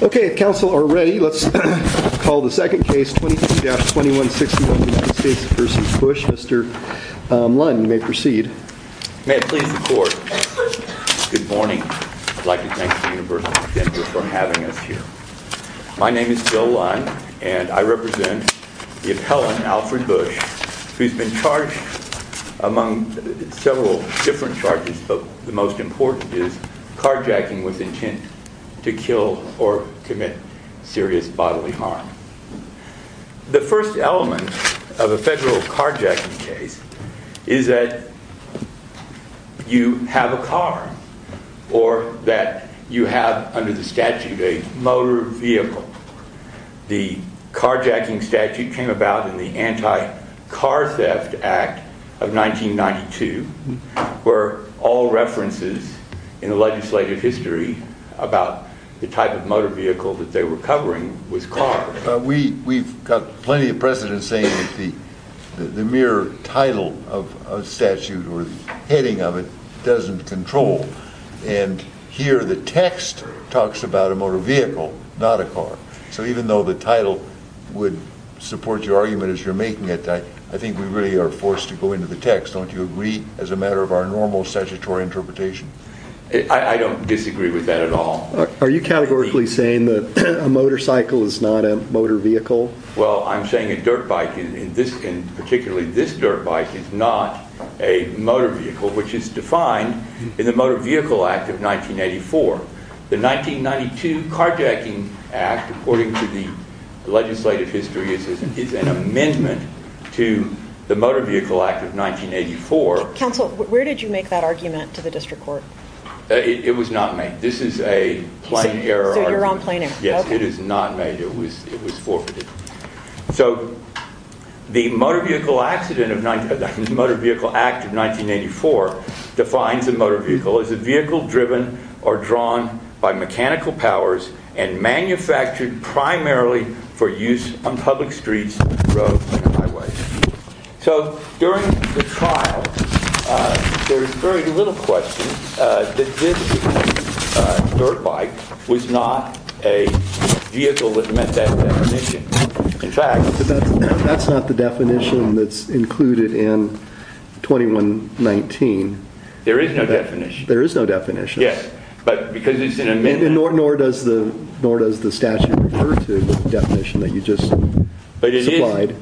May I please report? Good morning. I'd like to thank the University of Denver for having us here. My name is Bill Lund and I represent the appellant, Alfred Busch, who's been charged among several different charges, but the most important is carjacking with intent to kill or commit serious bodily harm. The first element of a federal carjacking case is that you have a car or that you have under the statute a motor vehicle. The carjacking statute came about in the anti-car theft act of 1992 where all references in the legislative history about the type of motor vehicle that they were covering was car. We've got plenty of precedent saying that the mere title of a statute or the heading of it doesn't control and here the text talks about a motor vehicle, not a car. So even though the title would support your argument as you're making it, I think we really are forced to go into the text. Don't you agree as a matter of our normal statutory interpretation? I don't disagree with that at all. Are you categorically saying that a motorcycle is not a motor vehicle? Well, I'm saying a dirt bike, particularly this dirt bike, is not a motor vehicle, which is defined in the Motor Vehicle Act of 1984. The 1992 Carjacking Act, according to the legislative history, is an amendment to the Motor Vehicle Act of 1984. Counsel, where did you make that argument to the district court? It was not made. This is a plain error argument. So you're on plain error. Yes, it is not made. It was forfeited. So the Motor Vehicle Act of 1984 defines a motor vehicle as a vehicle driven or drawn by mechanical powers and manufactured primarily for use on public streets, roads, and highways. So during the trial, there's very little question that this dirt bike was not a vehicle that met that definition. In fact... But that's not the definition that's included in 2119. There is no definition. There is no definition. Yes, but because it's an amendment... Nor does the statute refer to the definition that you just supplied. But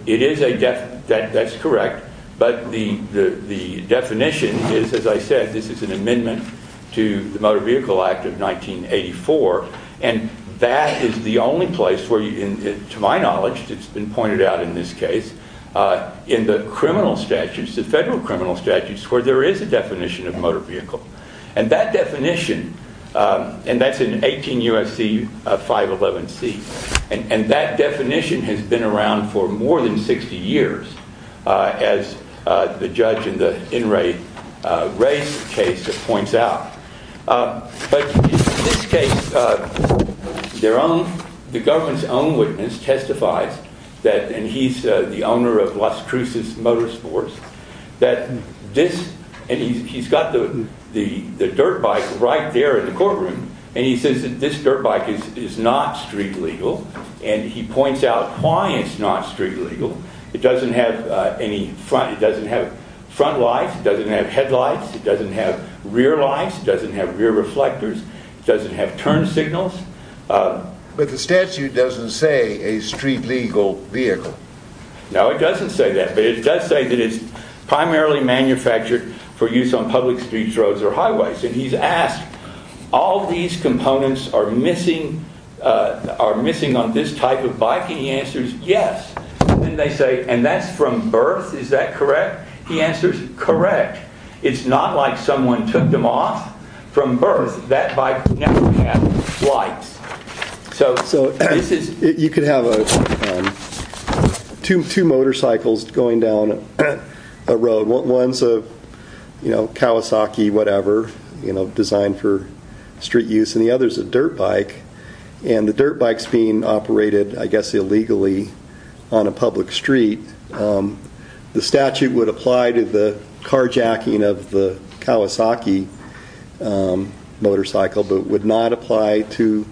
it is a... That's correct. But the definition is, as I said, this is an amendment to the Motor Vehicle Act of 1984. And that is the only place where, to my knowledge, it's been pointed out in this case, in the criminal statutes, the federal criminal statutes, where there is a definition of motor vehicle. And that definition... And that's in 18 U.S.C. 511C. And that definition has been around for more than 60 years, as the judge in the In Re Race case points out. But in this case, the government's own witness testifies that... And he's the owner of Las Cruces Motorsports, that this... And he's got the dirt bike right there in the courtroom. And he says that this is not street legal. It doesn't have any front... It doesn't have front lights. It doesn't have headlights. It doesn't have rear lights. It doesn't have rear reflectors. It doesn't have turn signals. But the statute doesn't say a street legal vehicle. No, it doesn't say that. But it does say that it's primarily manufactured for use on public streets, roads, or highways. And he's asked, all these components are missing on this type of bike. And he answers, and they say, and that's from birth, is that correct? He answers, correct. It's not like someone took them off from birth. That bike never had lights. So this is... You could have two motorcycles going down a road. One's a Kawasaki, whatever, designed for street use. And the other's a dirt bike. And the dirt bike's being operated, I guess, pretty illegally on a public street. The statute would apply to the carjacking of the Kawasaki motorcycle, but would not apply to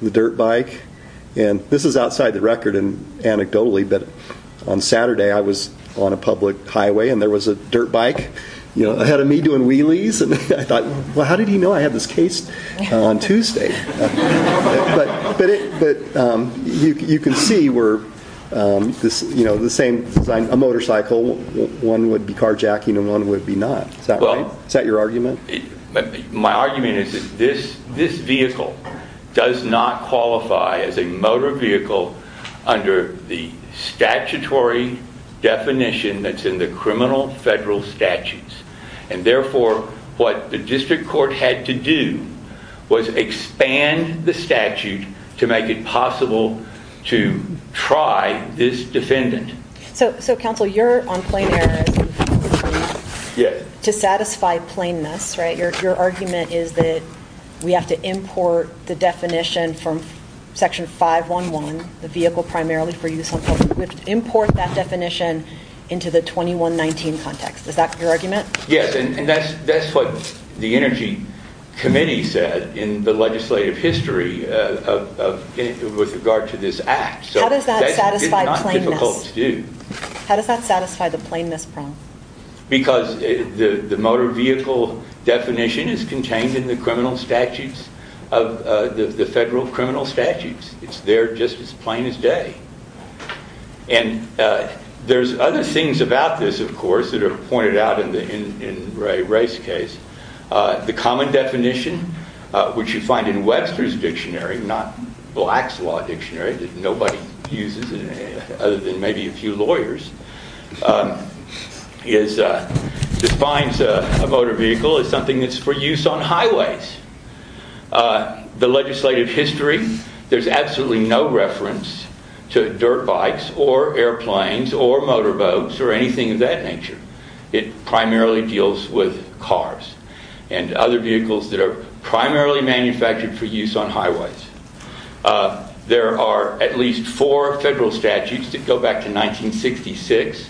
the dirt bike. And this is outside the record and anecdotally, but on Saturday, I was on a public highway, and there was a dirt bike ahead of me doing wheelies. And I thought, well, how did he know I had this case on Tuesday? But you can see where the same design, a motorcycle, one would be carjacking and one would be not. Is that right? Is that your argument? My argument is that this vehicle does not qualify as a motor vehicle under the statutory definition that's in the criminal federal statutes. And therefore, what the district court had to do was expand the statute to make it possible to try this defendant. So counsel, you're on plain error to satisfy plainness, right? Your argument is that we have to import the definition from section 511, the vehicle primarily for use on public roads. We have to import that definition into the 2119 context. Is that your argument? Yes, and that's what the Energy Committee said in the legislative history with regard to this act. How does that satisfy plainness? How does that satisfy the plainness problem? Because the motor vehicle definition is contained in the federal criminal statutes. It's there just as plain as day. And there's other things about this, of course, that are pointed out in Ray Ray's case. The common definition, which you find in Webster's dictionary, not Black's Law dictionary that nobody uses other than maybe a few lawyers, defines a motor vehicle as something that's for use on highways. The legislative history, there's absolutely no reference to dirt bikes or airplanes or motor boats or anything of that nature. It primarily deals with cars and other vehicles that are primarily manufactured for use on highways. There are at least four federal statutes that go back to 1966.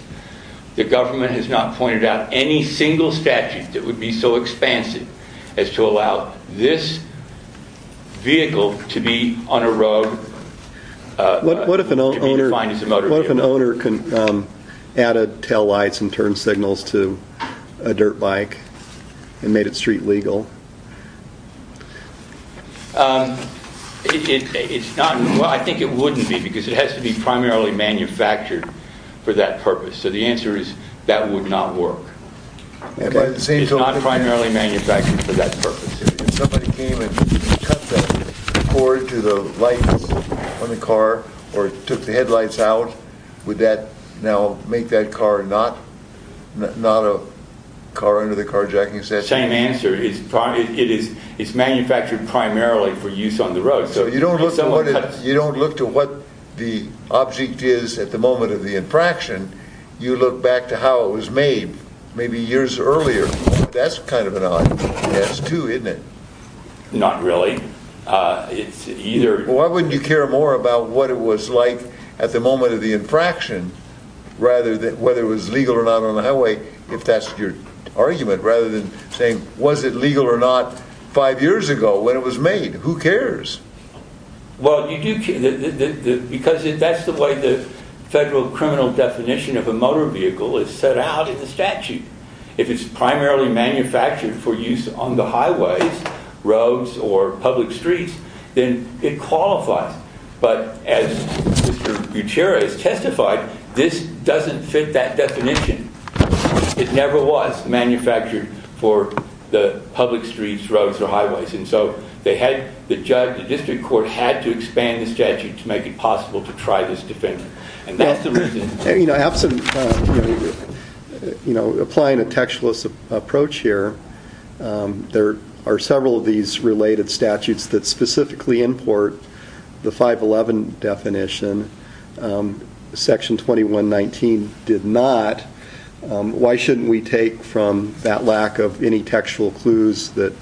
The government has not pointed out any single statute that would be so expansive as to allow this vehicle to be on a road. What if an owner added taillights and turn signals to a dirt bike and made it street legal? I think it wouldn't be because it has to be primarily manufactured for that purpose. So the answer is that would not work. It's not primarily manufactured for that purpose. If somebody came and cut the cord to the lights on the car or took the headlights out, would that now make that car not a car under the carjacking statute? Same answer. It's manufactured primarily for use on the road. So you don't look to what the object is at the moment of the infraction. You look back to how it was made, maybe years earlier. That's kind of an odd guess too, isn't it? Not really. Why wouldn't you care more about what it was like at the moment of the infraction, whether it was legal or not on the highway, if that's your argument, rather than saying, was it legal or not five years ago when it was made? Who cares? That's the way the federal criminal definition of a motor vehicle is set out in the statute. If it's primarily manufactured for use on the highways, roads, or public streets, then it qualifies. But as Mr. Gutierrez testified, this doesn't fit that definition. It never was manufactured for the public streets, roads, or highways. And so the district court had to expand the statute to make it possible to try this definition. And that's the reason. Applying a textualist approach here, there are several of these related statutes that specifically import the 511 definition. Section 2119 did not. Why shouldn't we take from that lack of any textual clues that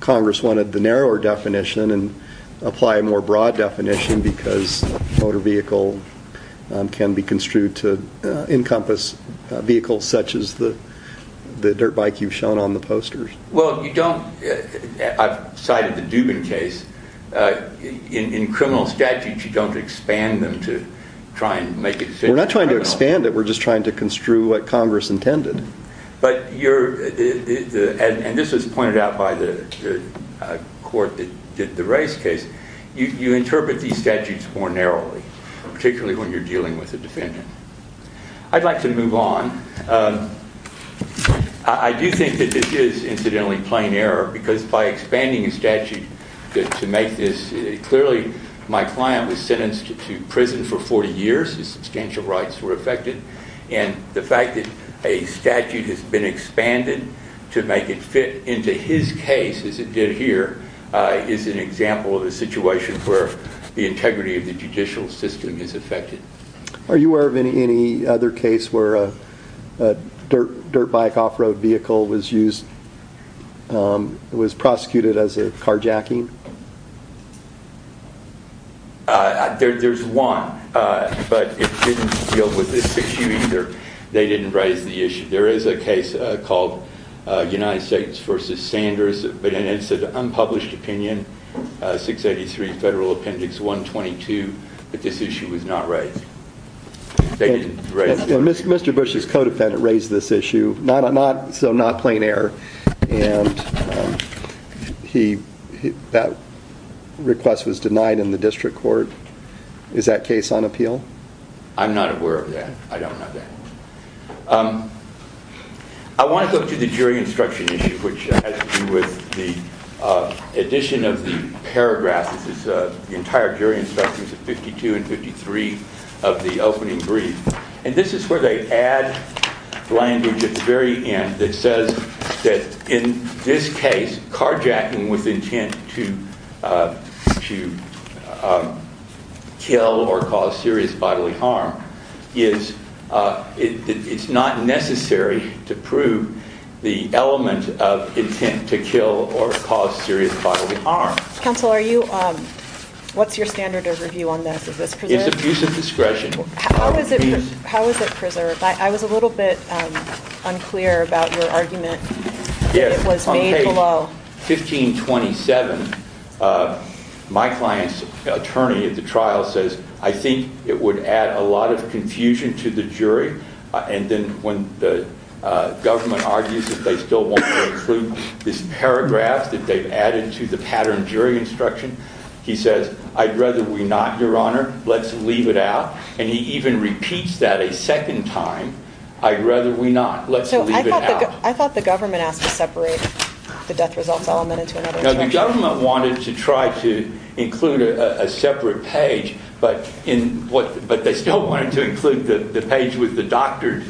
Congress wanted the narrower definition and apply a more broad definition, because a motor vehicle can be construed to encompass vehicles such as the dirt bike you've shown on the posters? Well, you don't. I've cited the Dubin case. In criminal statutes, you don't expand them to try and make it fit. We're not trying to expand it. We're just trying to construe what Congress intended. And this was pointed out by the court that did the race case. You interpret these statutes more narrowly, particularly when you're dealing with a defendant. I'd like to move on. I do think that this is, incidentally, plain error, because by expanding a statute to make this, clearly my client was sentenced to prison for 40 years. His substantial rights were affected. And the fact that a statute has been expanded to make it fit into his case, as it did here, is an example of a situation where the integrity of the judicial system is affected. Are you aware of any other case where a dirt bike off-road vehicle was used, was prosecuted as a carjacking? There's one, but it didn't deal with this issue either. They didn't raise the issue. There is a case called United States v. Sanders, but it's an unpublished opinion, 683 Federal Appendix 122, that this issue was not raised. They didn't raise it. Mr. Bush's co-defendant raised this issue, so not plain error. And that request was denied in the district court. Is that case on appeal? I'm not aware of that. I don't have that. I want to go to the jury instruction issue, which has to do with the addition of the paragraph. This is the entire jury instruction, 52 and 53 of the opening brief. And this is where they add language at the very end that says that in this case, carjacking with intent to kill or cause serious bodily harm, it's not necessary to prove the element of intent to kill or cause serious bodily harm. Counsel, what's your standard of review on this? It's abuse of discretion. How is it preserved? I was a little bit unclear about your argument. Yes, on page 1527, my client's attorney at the trial says, I think it would add a lot of confusion to the jury. And then when the government argues that they still want to include this paragraph that they've added to the pattern jury instruction, he says, I'd rather we not, Your Honor. Let's leave it out. And he even repeats that a second time. I'd rather we not. Let's leave it out. So I thought the government asked to separate the death results element into another instruction. No, the government wanted to try to include a separate page, but they still wanted to include the page with the doctored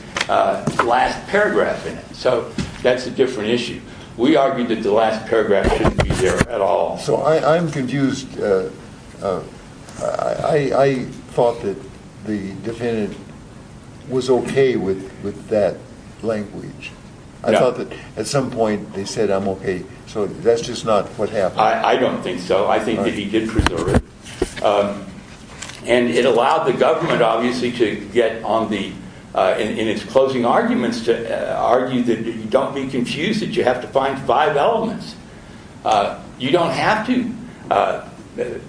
last paragraph in it. So that's a different issue. We argued that the last paragraph shouldn't be there at all. So I'm confused. I thought that the defendant was OK with that language. I thought that at some point they said, I'm OK. So that's just not what happened. I don't think so. I think that he did preserve it. And it allowed the government, obviously, to get on the, in its closing arguments, to argue that you don't be confused, that you have to find five elements. You don't have to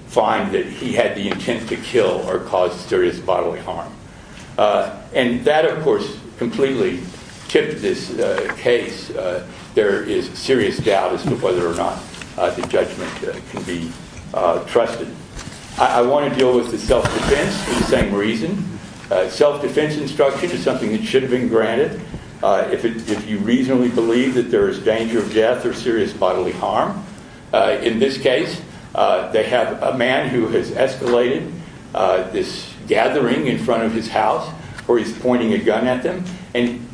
find that he had the intent to kill or cause serious bodily harm. And that, of course, completely tipped this case. There is serious doubt as to whether or not the judgment can be trusted. I want to deal with the self-defense for the same reason. Self-defense instruction is something that should have been granted. If you reasonably believe that there is danger of death or serious bodily harm, in this case, they have a man who has escalated this gathering in front of his house where he's pointing a gun at them. And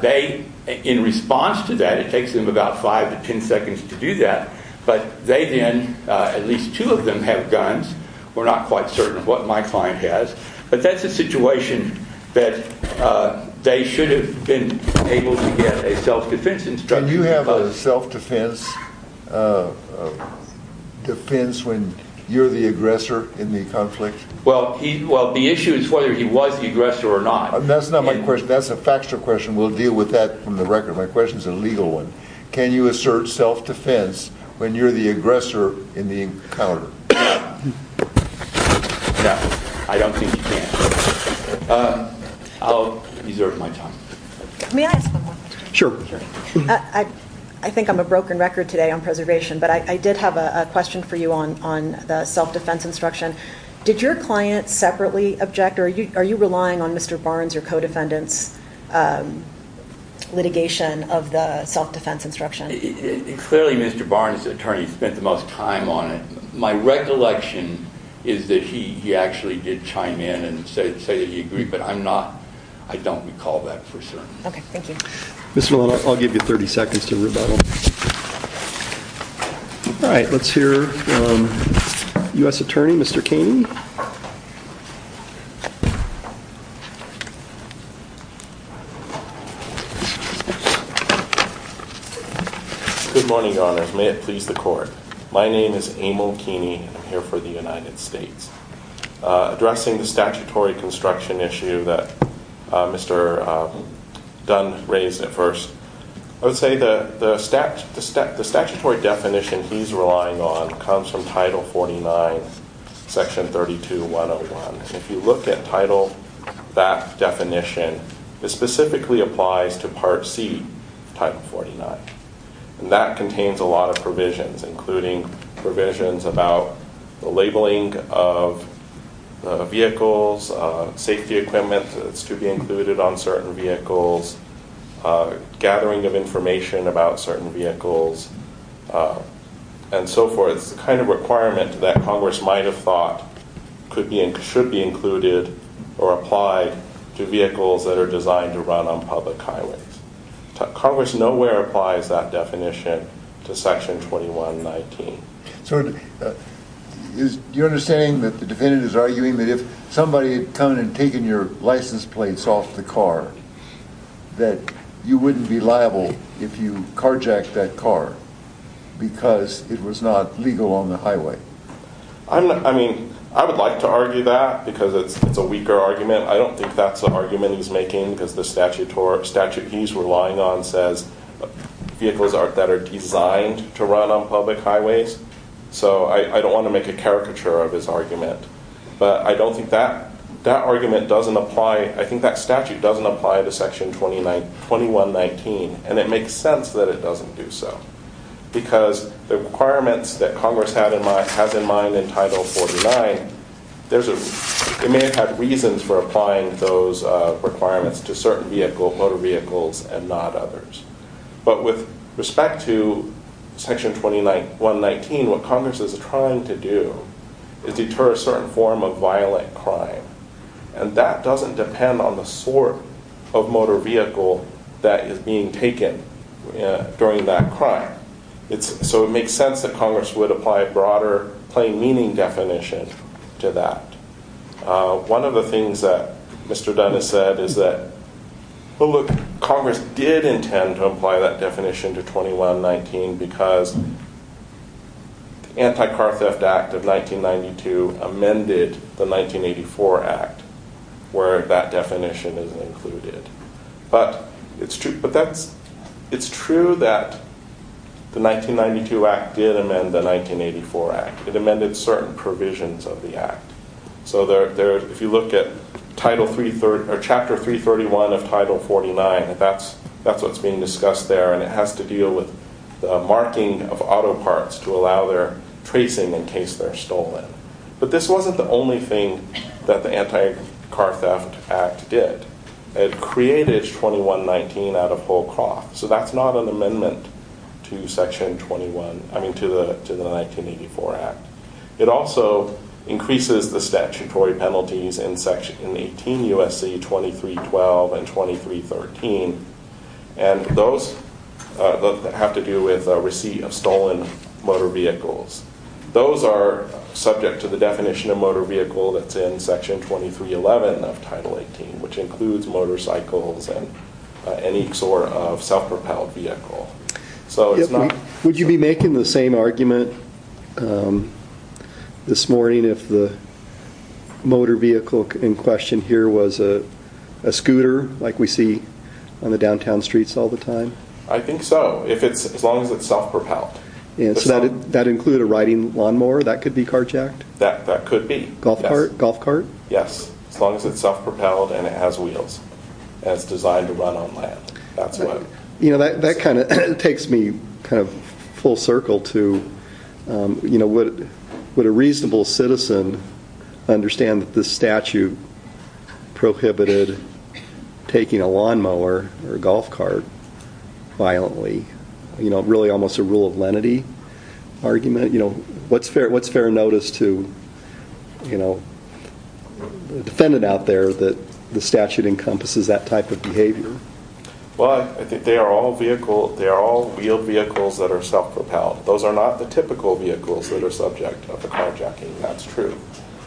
they, in response to that, it takes them about five to ten seconds to do that. But they then, at least two of them, have guns. We're not quite certain of what my client has. But that's a situation that they should have been able to get a self-defense instruction. Can you have a self-defense when you're the aggressor in the conflict? Well, the issue is whether he was the aggressor or not. That's not my question. That's a factual question. We'll deal with that from the record. My question is a legal one. Can you assert self-defense when you're the aggressor in the encounter? No. I don't think you can. I'll reserve my time. May I ask one more question? Sure. I think I'm a broken record today on preservation, but I did have a question for you on the self-defense instruction. Did your client separately object, or are you relying on Mr. Barnes or co-defendants' litigation of the self-defense instruction? Clearly, Mr. Barnes, the attorney, spent the most time on it. My recollection is that he actually did chime in and say that he agreed, but I don't recall that for certain. Okay. Thank you. Ms. Millen, I'll give you 30 seconds to rebuttal. All right. Let's hear U.S. Attorney, Mr. Kaney. My name is Emil Kaney, and I'm here for the United States. Addressing the statutory construction issue that Mr. Dunn raised at first, I would say the statutory definition he's relying on comes from Title 49, Section 32-101. If you look at Title, that definition, it specifically applies to Part C, Title 49. That contains a lot of provisions, including provisions about the labeling of vehicles, safety equipment that's to be included on certain vehicles, gathering of information about certain vehicles, and so forth. It's the kind of requirement that Congress might have thought should be included or applied to vehicles that are designed to run on public highways. Congress nowhere applies that definition to Section 21-19. So is your understanding that the defendant is arguing that if somebody had come and taken your license plates off the car that you wouldn't be liable if you carjacked that car because it was not legal on the highway? I mean, I would like to argue that because it's a weaker argument. I don't think that's an argument he's making because the statute he's relying on says vehicles that are designed to run on public highways. So I don't want to make a caricature of his argument. But I don't think that argument doesn't apply. I think that statute doesn't apply to Section 21-19, and it makes sense that it doesn't do so because the requirements that Congress has in mind in Title 49, it may have had reasons for applying those requirements to certain motor vehicles and not others. But with respect to Section 21-19, what Congress is trying to do is deter a certain form of violent crime. And that doesn't depend on the sort of motor vehicle that is being taken during that crime. So it makes sense that Congress would apply a broader plain meaning definition to that. One of the things that Mr. Dunn has said is that, well, look, Congress did intend to apply that definition to 21-19 because the Anti-Car Theft Act of 1992 amended the 1984 Act where that definition is included. But it's true that the 1992 Act did amend the 1984 Act. It amended certain provisions of the Act. So if you look at Chapter 331 of Title 49, that's what's being discussed there. And it has to deal with the marking of auto parts to allow their tracing in case they're stolen. But this wasn't the only thing that the Anti-Car Theft Act did. It created 21-19 out of whole cloth. So that's not an amendment to Section 21, I mean to the 1984 Act. It also increases the statutory penalties in Section 18 USC 2312 and 2313. And those have to do with receipt of stolen motor vehicles. Those are subject to the definition of motor vehicle that's in Section 2311 of Title 18, which includes motorcycles and any sort of self-propelled vehicle. So it's not- Would you be making the same argument this morning if the motor vehicle in question here was a scooter like we see on the downtown streets all the time? I think so, as long as it's self-propelled. So that'd include a riding lawnmower that could be carjacked? That could be. Golf cart? Yes. As long as it's self-propelled and it has wheels and it's designed to run on land. That's what- You know, that kind of takes me kind of full circle to would a reasonable citizen understand that this statute prohibited taking a lawnmower or a golf cart violently? You know, really almost a rule of lenity argument? What's fair notice to the defendant out there that the statute encompasses that type of behavior? Well, I think they are all wheeled vehicles that are self-propelled. Those are not the typical vehicles that are subject to carjacking. That's true.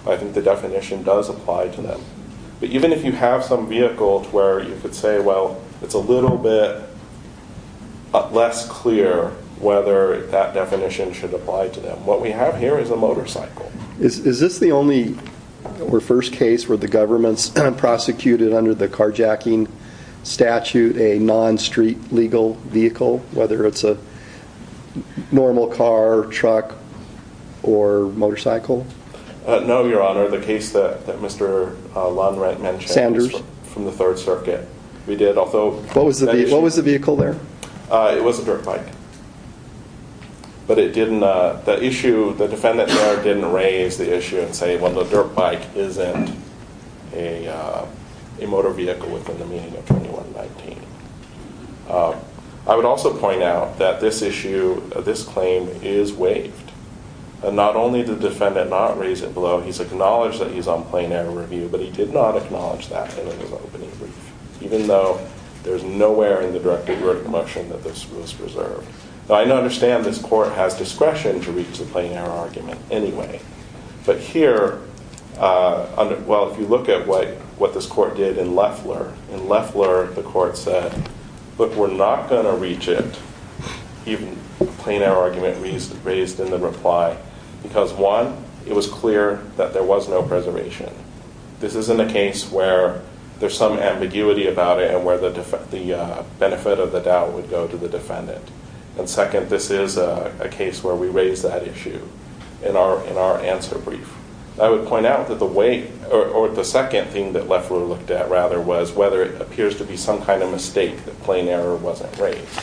I think the definition does apply to them. But even if you have some vehicle to where you could say, well, it's a little bit less clear whether that definition should apply to them. What we have here is a motorcycle. Is this the only or first case where the government's prosecuted under the carjacking statute a non-street legal vehicle, whether it's a normal car, truck, or motorcycle? No, Your Honor. The case that Mr. Lundreth mentioned- Sanders? From the Third Circuit. We did, although- What was the vehicle there? It was a dirt bike. But it didn't- the issue- the defendant there didn't raise the issue and say, well, the dirt bike isn't a motor vehicle within the meaning of 2119. I would also point out that this issue, this claim, is waived. Not only did the defendant not raise it below, he's acknowledged that he's on plain air review, but he did not acknowledge that in his opening brief, even though there's nowhere in the directed verdict motion that this was reserved. Now, I understand this court has discretion to reach a plain air argument anyway. But here, well, if you look at what this court did in Leffler, in Leffler the court said, look, we're not going to reach it, even a plain air argument raised in the reply, because, one, it was clear that there was no preservation. This isn't a case where there's some ambiguity about it and where the benefit of the doubt would go to the defendant. And, second, this is a case where we raise that issue in our answer brief. I would point out that the way- or the second thing that Leffler looked at, rather, was whether it appears to be some kind of mistake that plain air wasn't raised.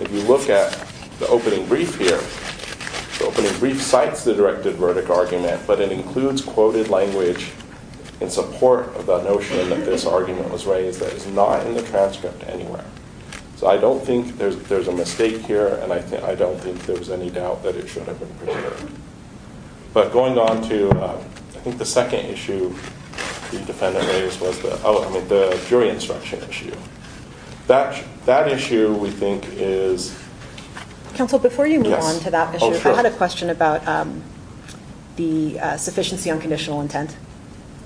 If you look at the opening brief here, the opening brief cites the directed verdict argument, but it includes quoted language in support of the notion that this argument was raised that is not in the transcript anywhere. So I don't think there's a mistake here, and I don't think there's any doubt that it should have been preserved. But going on to, I think, the second issue the defendant raised was the jury instruction issue. That issue, we think, is-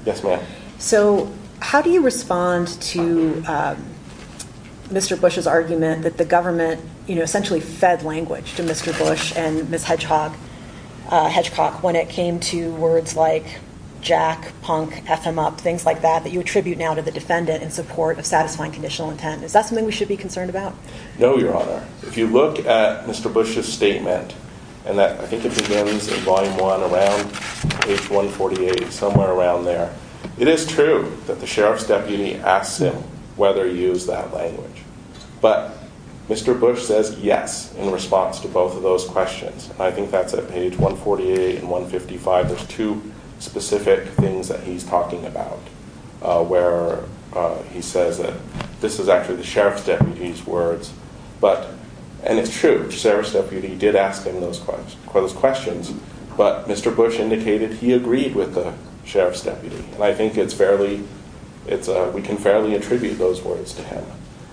Yes, ma'am. So how do you respond to Mr. Bush's argument that the government essentially fed language to Mr. Bush and Ms. Hedgecock when it came to words like jack, punk, f him up, things like that, that you attribute now to the defendant in support of satisfying conditional intent? Is that something we should be concerned about? No, Your Honor. If you look at Mr. Bush's statement, and I think it begins in Volume 1 around page 148, somewhere around there, it is true that the sheriff's deputy asks him whether he used that language. But Mr. Bush says yes in response to both of those questions. I think that's at page 148 and 155. There's two specific things that he's talking about where he says that this is actually the sheriff's deputy's words, and it's true, the sheriff's deputy did ask him those questions, but Mr. Bush indicated he agreed with the sheriff's deputy, and I think we can fairly attribute those words to him.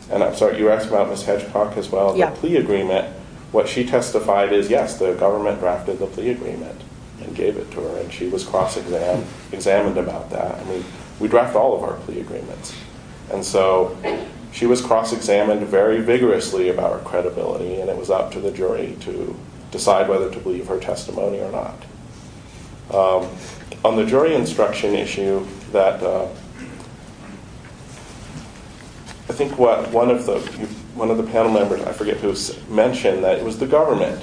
And I'm sorry, you asked about Ms. Hedgecock as well? Yeah. The plea agreement, what she testified is yes, the government drafted the plea agreement and gave it to her, and she was cross-examined about that. I mean, we draft all of our plea agreements. And so she was cross-examined very vigorously about her credibility, and it was up to the jury to decide whether to believe her testimony or not. On the jury instruction issue, I think one of the panel members, I forget who, mentioned that it was the government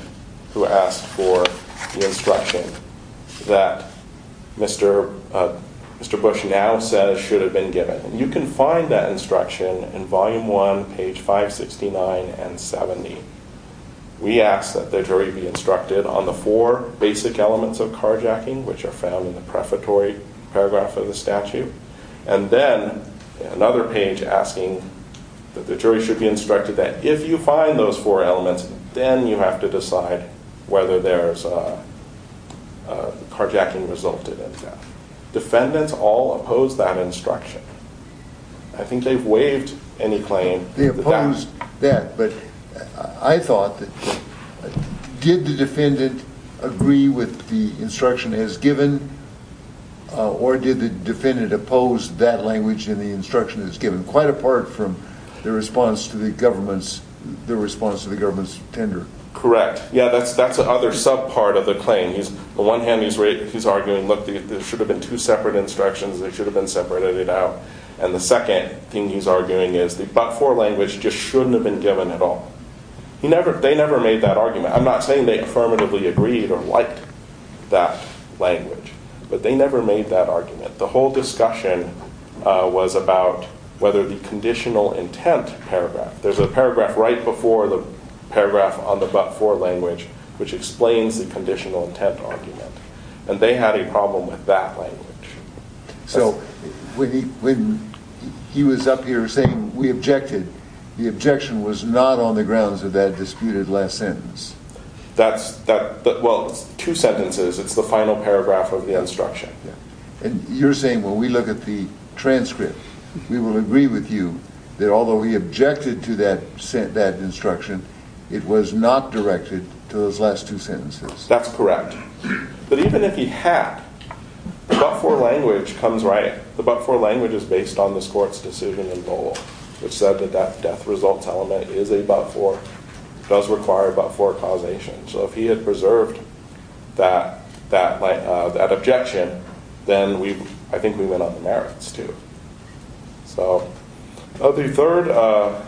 who asked for the instruction that Mr. Bush now says should have been given. And you can find that instruction in Volume 1, page 569 and 70. We ask that the jury be instructed on the four basic elements of carjacking, which are found in the prefatory paragraph of the statute, and then another page asking that the jury should be instructed that if you find those four elements, then you have to decide whether there's carjacking resulted in death. Defendants all opposed that instruction. I think they've waived any claim. They opposed that. But I thought that did the defendant agree with the instruction as given, or did the defendant oppose that language in the instruction as given, quite apart from their response to the government's tender? Correct. Yeah, that's the other sub-part of the claim. On the one hand, he's arguing, look, there should have been two separate instructions. They should have been separated out. And the second thing he's arguing is the but-for language just shouldn't have been given at all. They never made that argument. I'm not saying they affirmatively agreed or liked that language, but they never made that argument. The whole discussion was about whether the conditional intent paragraph, there's a paragraph right before the paragraph on the but-for language, which explains the conditional intent argument. And they had a problem with that language. So when he was up here saying we objected, the objection was not on the grounds of that disputed last sentence? Well, it's two sentences. It's the final paragraph of the instruction. And you're saying when we look at the transcript, we will agree with you that although he objected to that instruction, it was not directed to those last two sentences? That's correct. But even if he had, the but-for language comes right. The but-for language is based on this court's decision in Boal, which said that that death results element is a but-for, does require a but-for causation. So if he had preserved that objection, then I think we went on the merits, too. So the third.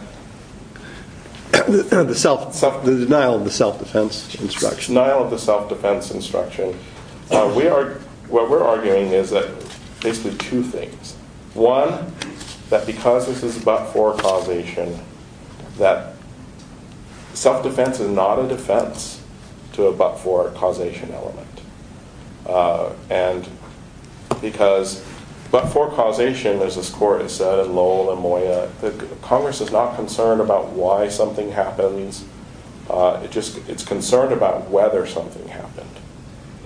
The denial of the self-defense instruction. Denial of the self-defense instruction. What we're arguing is that basically two things. One, that because this is a but-for causation, that self-defense is not a defense to a but-for causation element. And because but-for causation, as this court has said in Lowell and Moya, Congress is not concerned about why something happens. It's concerned about whether something happened.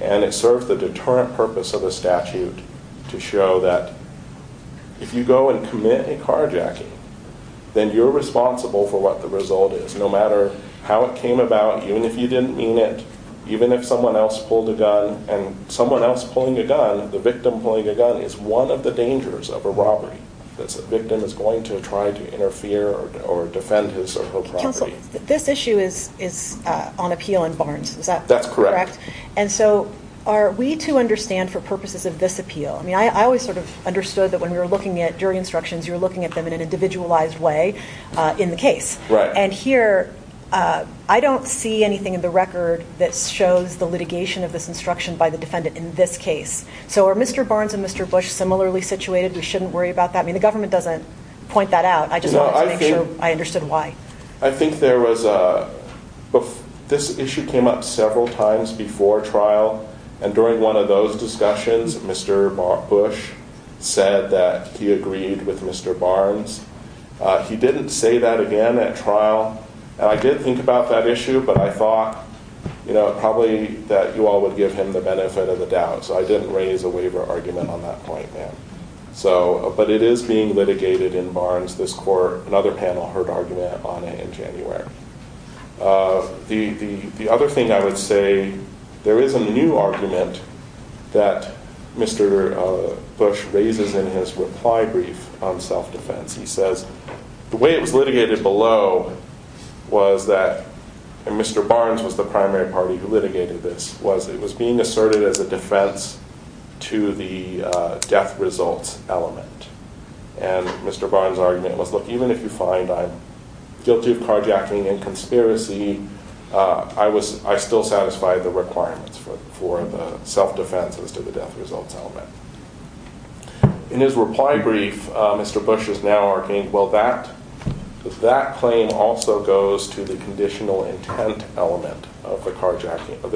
And it serves the deterrent purpose of the statute to show that if you go and commit a carjacking, then you're responsible for what the result is, no matter how it came about, even if you didn't mean it, even if someone else pulled a gun. And someone else pulling a gun, the victim pulling a gun, is one of the dangers of a robbery. The victim is going to try to interfere or defend his or her property. Counsel, this issue is on appeal in Barnes. Is that correct? That's correct. And so are we to understand for purposes of this appeal? I mean, I always sort of understood that when we were looking at jury instructions, you were looking at them in an individualized way in the case. Right. And here, I don't see anything in the record that shows the litigation of this instruction by the defendant in this case. So are Mr. Barnes and Mr. Bush similarly situated? We shouldn't worry about that? I mean, the government doesn't point that out. I just wanted to make sure I understood why. I think this issue came up several times before trial, and during one of those discussions, Mr. Bush said that he agreed with Mr. Barnes. He didn't say that again at trial. And I did think about that issue, but I thought probably that you all would give him the benefit of the doubt. So I didn't raise a waiver argument on that point, ma'am. But it is being litigated in Barnes, this court. Another panel heard argument on it in January. The other thing I would say, there is a new argument that Mr. Bush raises in his reply brief on self-defense. He says the way it was litigated below was that, and Mr. Barnes was the primary party who litigated this, was it was being asserted as a defense to the death results element. And Mr. Barnes' argument was, look, even if you find I'm guilty of carjacking and conspiracy, I still satisfy the requirements for the self-defense as to the death results element. In his reply brief, Mr. Bush is now arguing, well, that claim also goes to the conditional intent element of the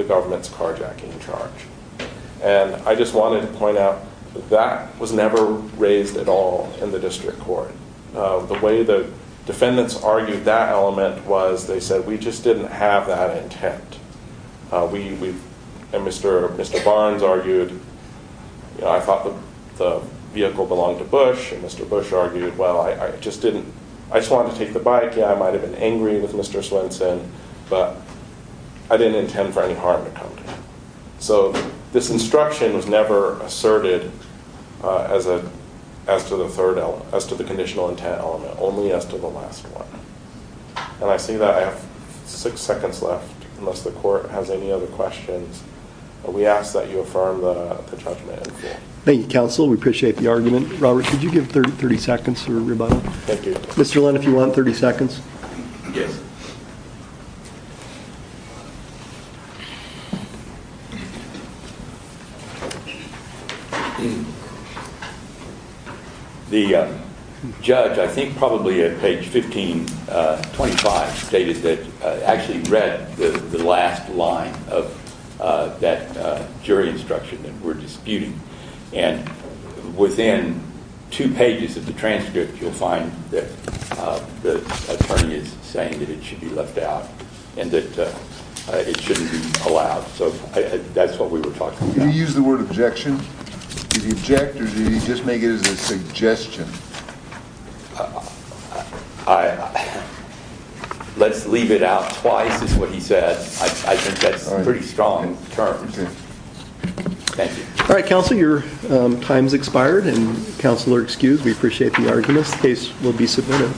government's carjacking charge. And I just wanted to point out that that was never raised at all in the district court. The way the defendants argued that element was they said, we just didn't have that intent. And Mr. Barnes argued, I thought the vehicle belonged to Bush, and Mr. Bush argued, well, I just didn't, I just wanted to take the bike. Yeah, I might have been angry with Mr. Swenson, but I didn't intend for any harm to come to him. So this instruction was never asserted as to the third element, as to the conditional intent element, only as to the last one. And I see that I have six seconds left, unless the court has any other questions. We ask that you affirm the judgment. Thank you, counsel. We appreciate the argument. Robert, could you give 30 seconds for a rebuttal? Thank you. Mr. Lynn, if you want 30 seconds. Yes. The judge, I think probably at page 1525, stated that actually read the last line of that jury instruction that we're disputing. And within two pages of the transcript, you'll find that the attorney is saying that it should be left out, and that it shouldn't be allowed. So that's what we were talking about. Did he use the word objection? Did he object, or did he just make it as a suggestion? Let's leave it out twice, is what he said. I think that's pretty strong terms. Okay. Thank you. All right, counsel, your time's expired, and counsel are excused. We appreciate the argument. The case will be submitted.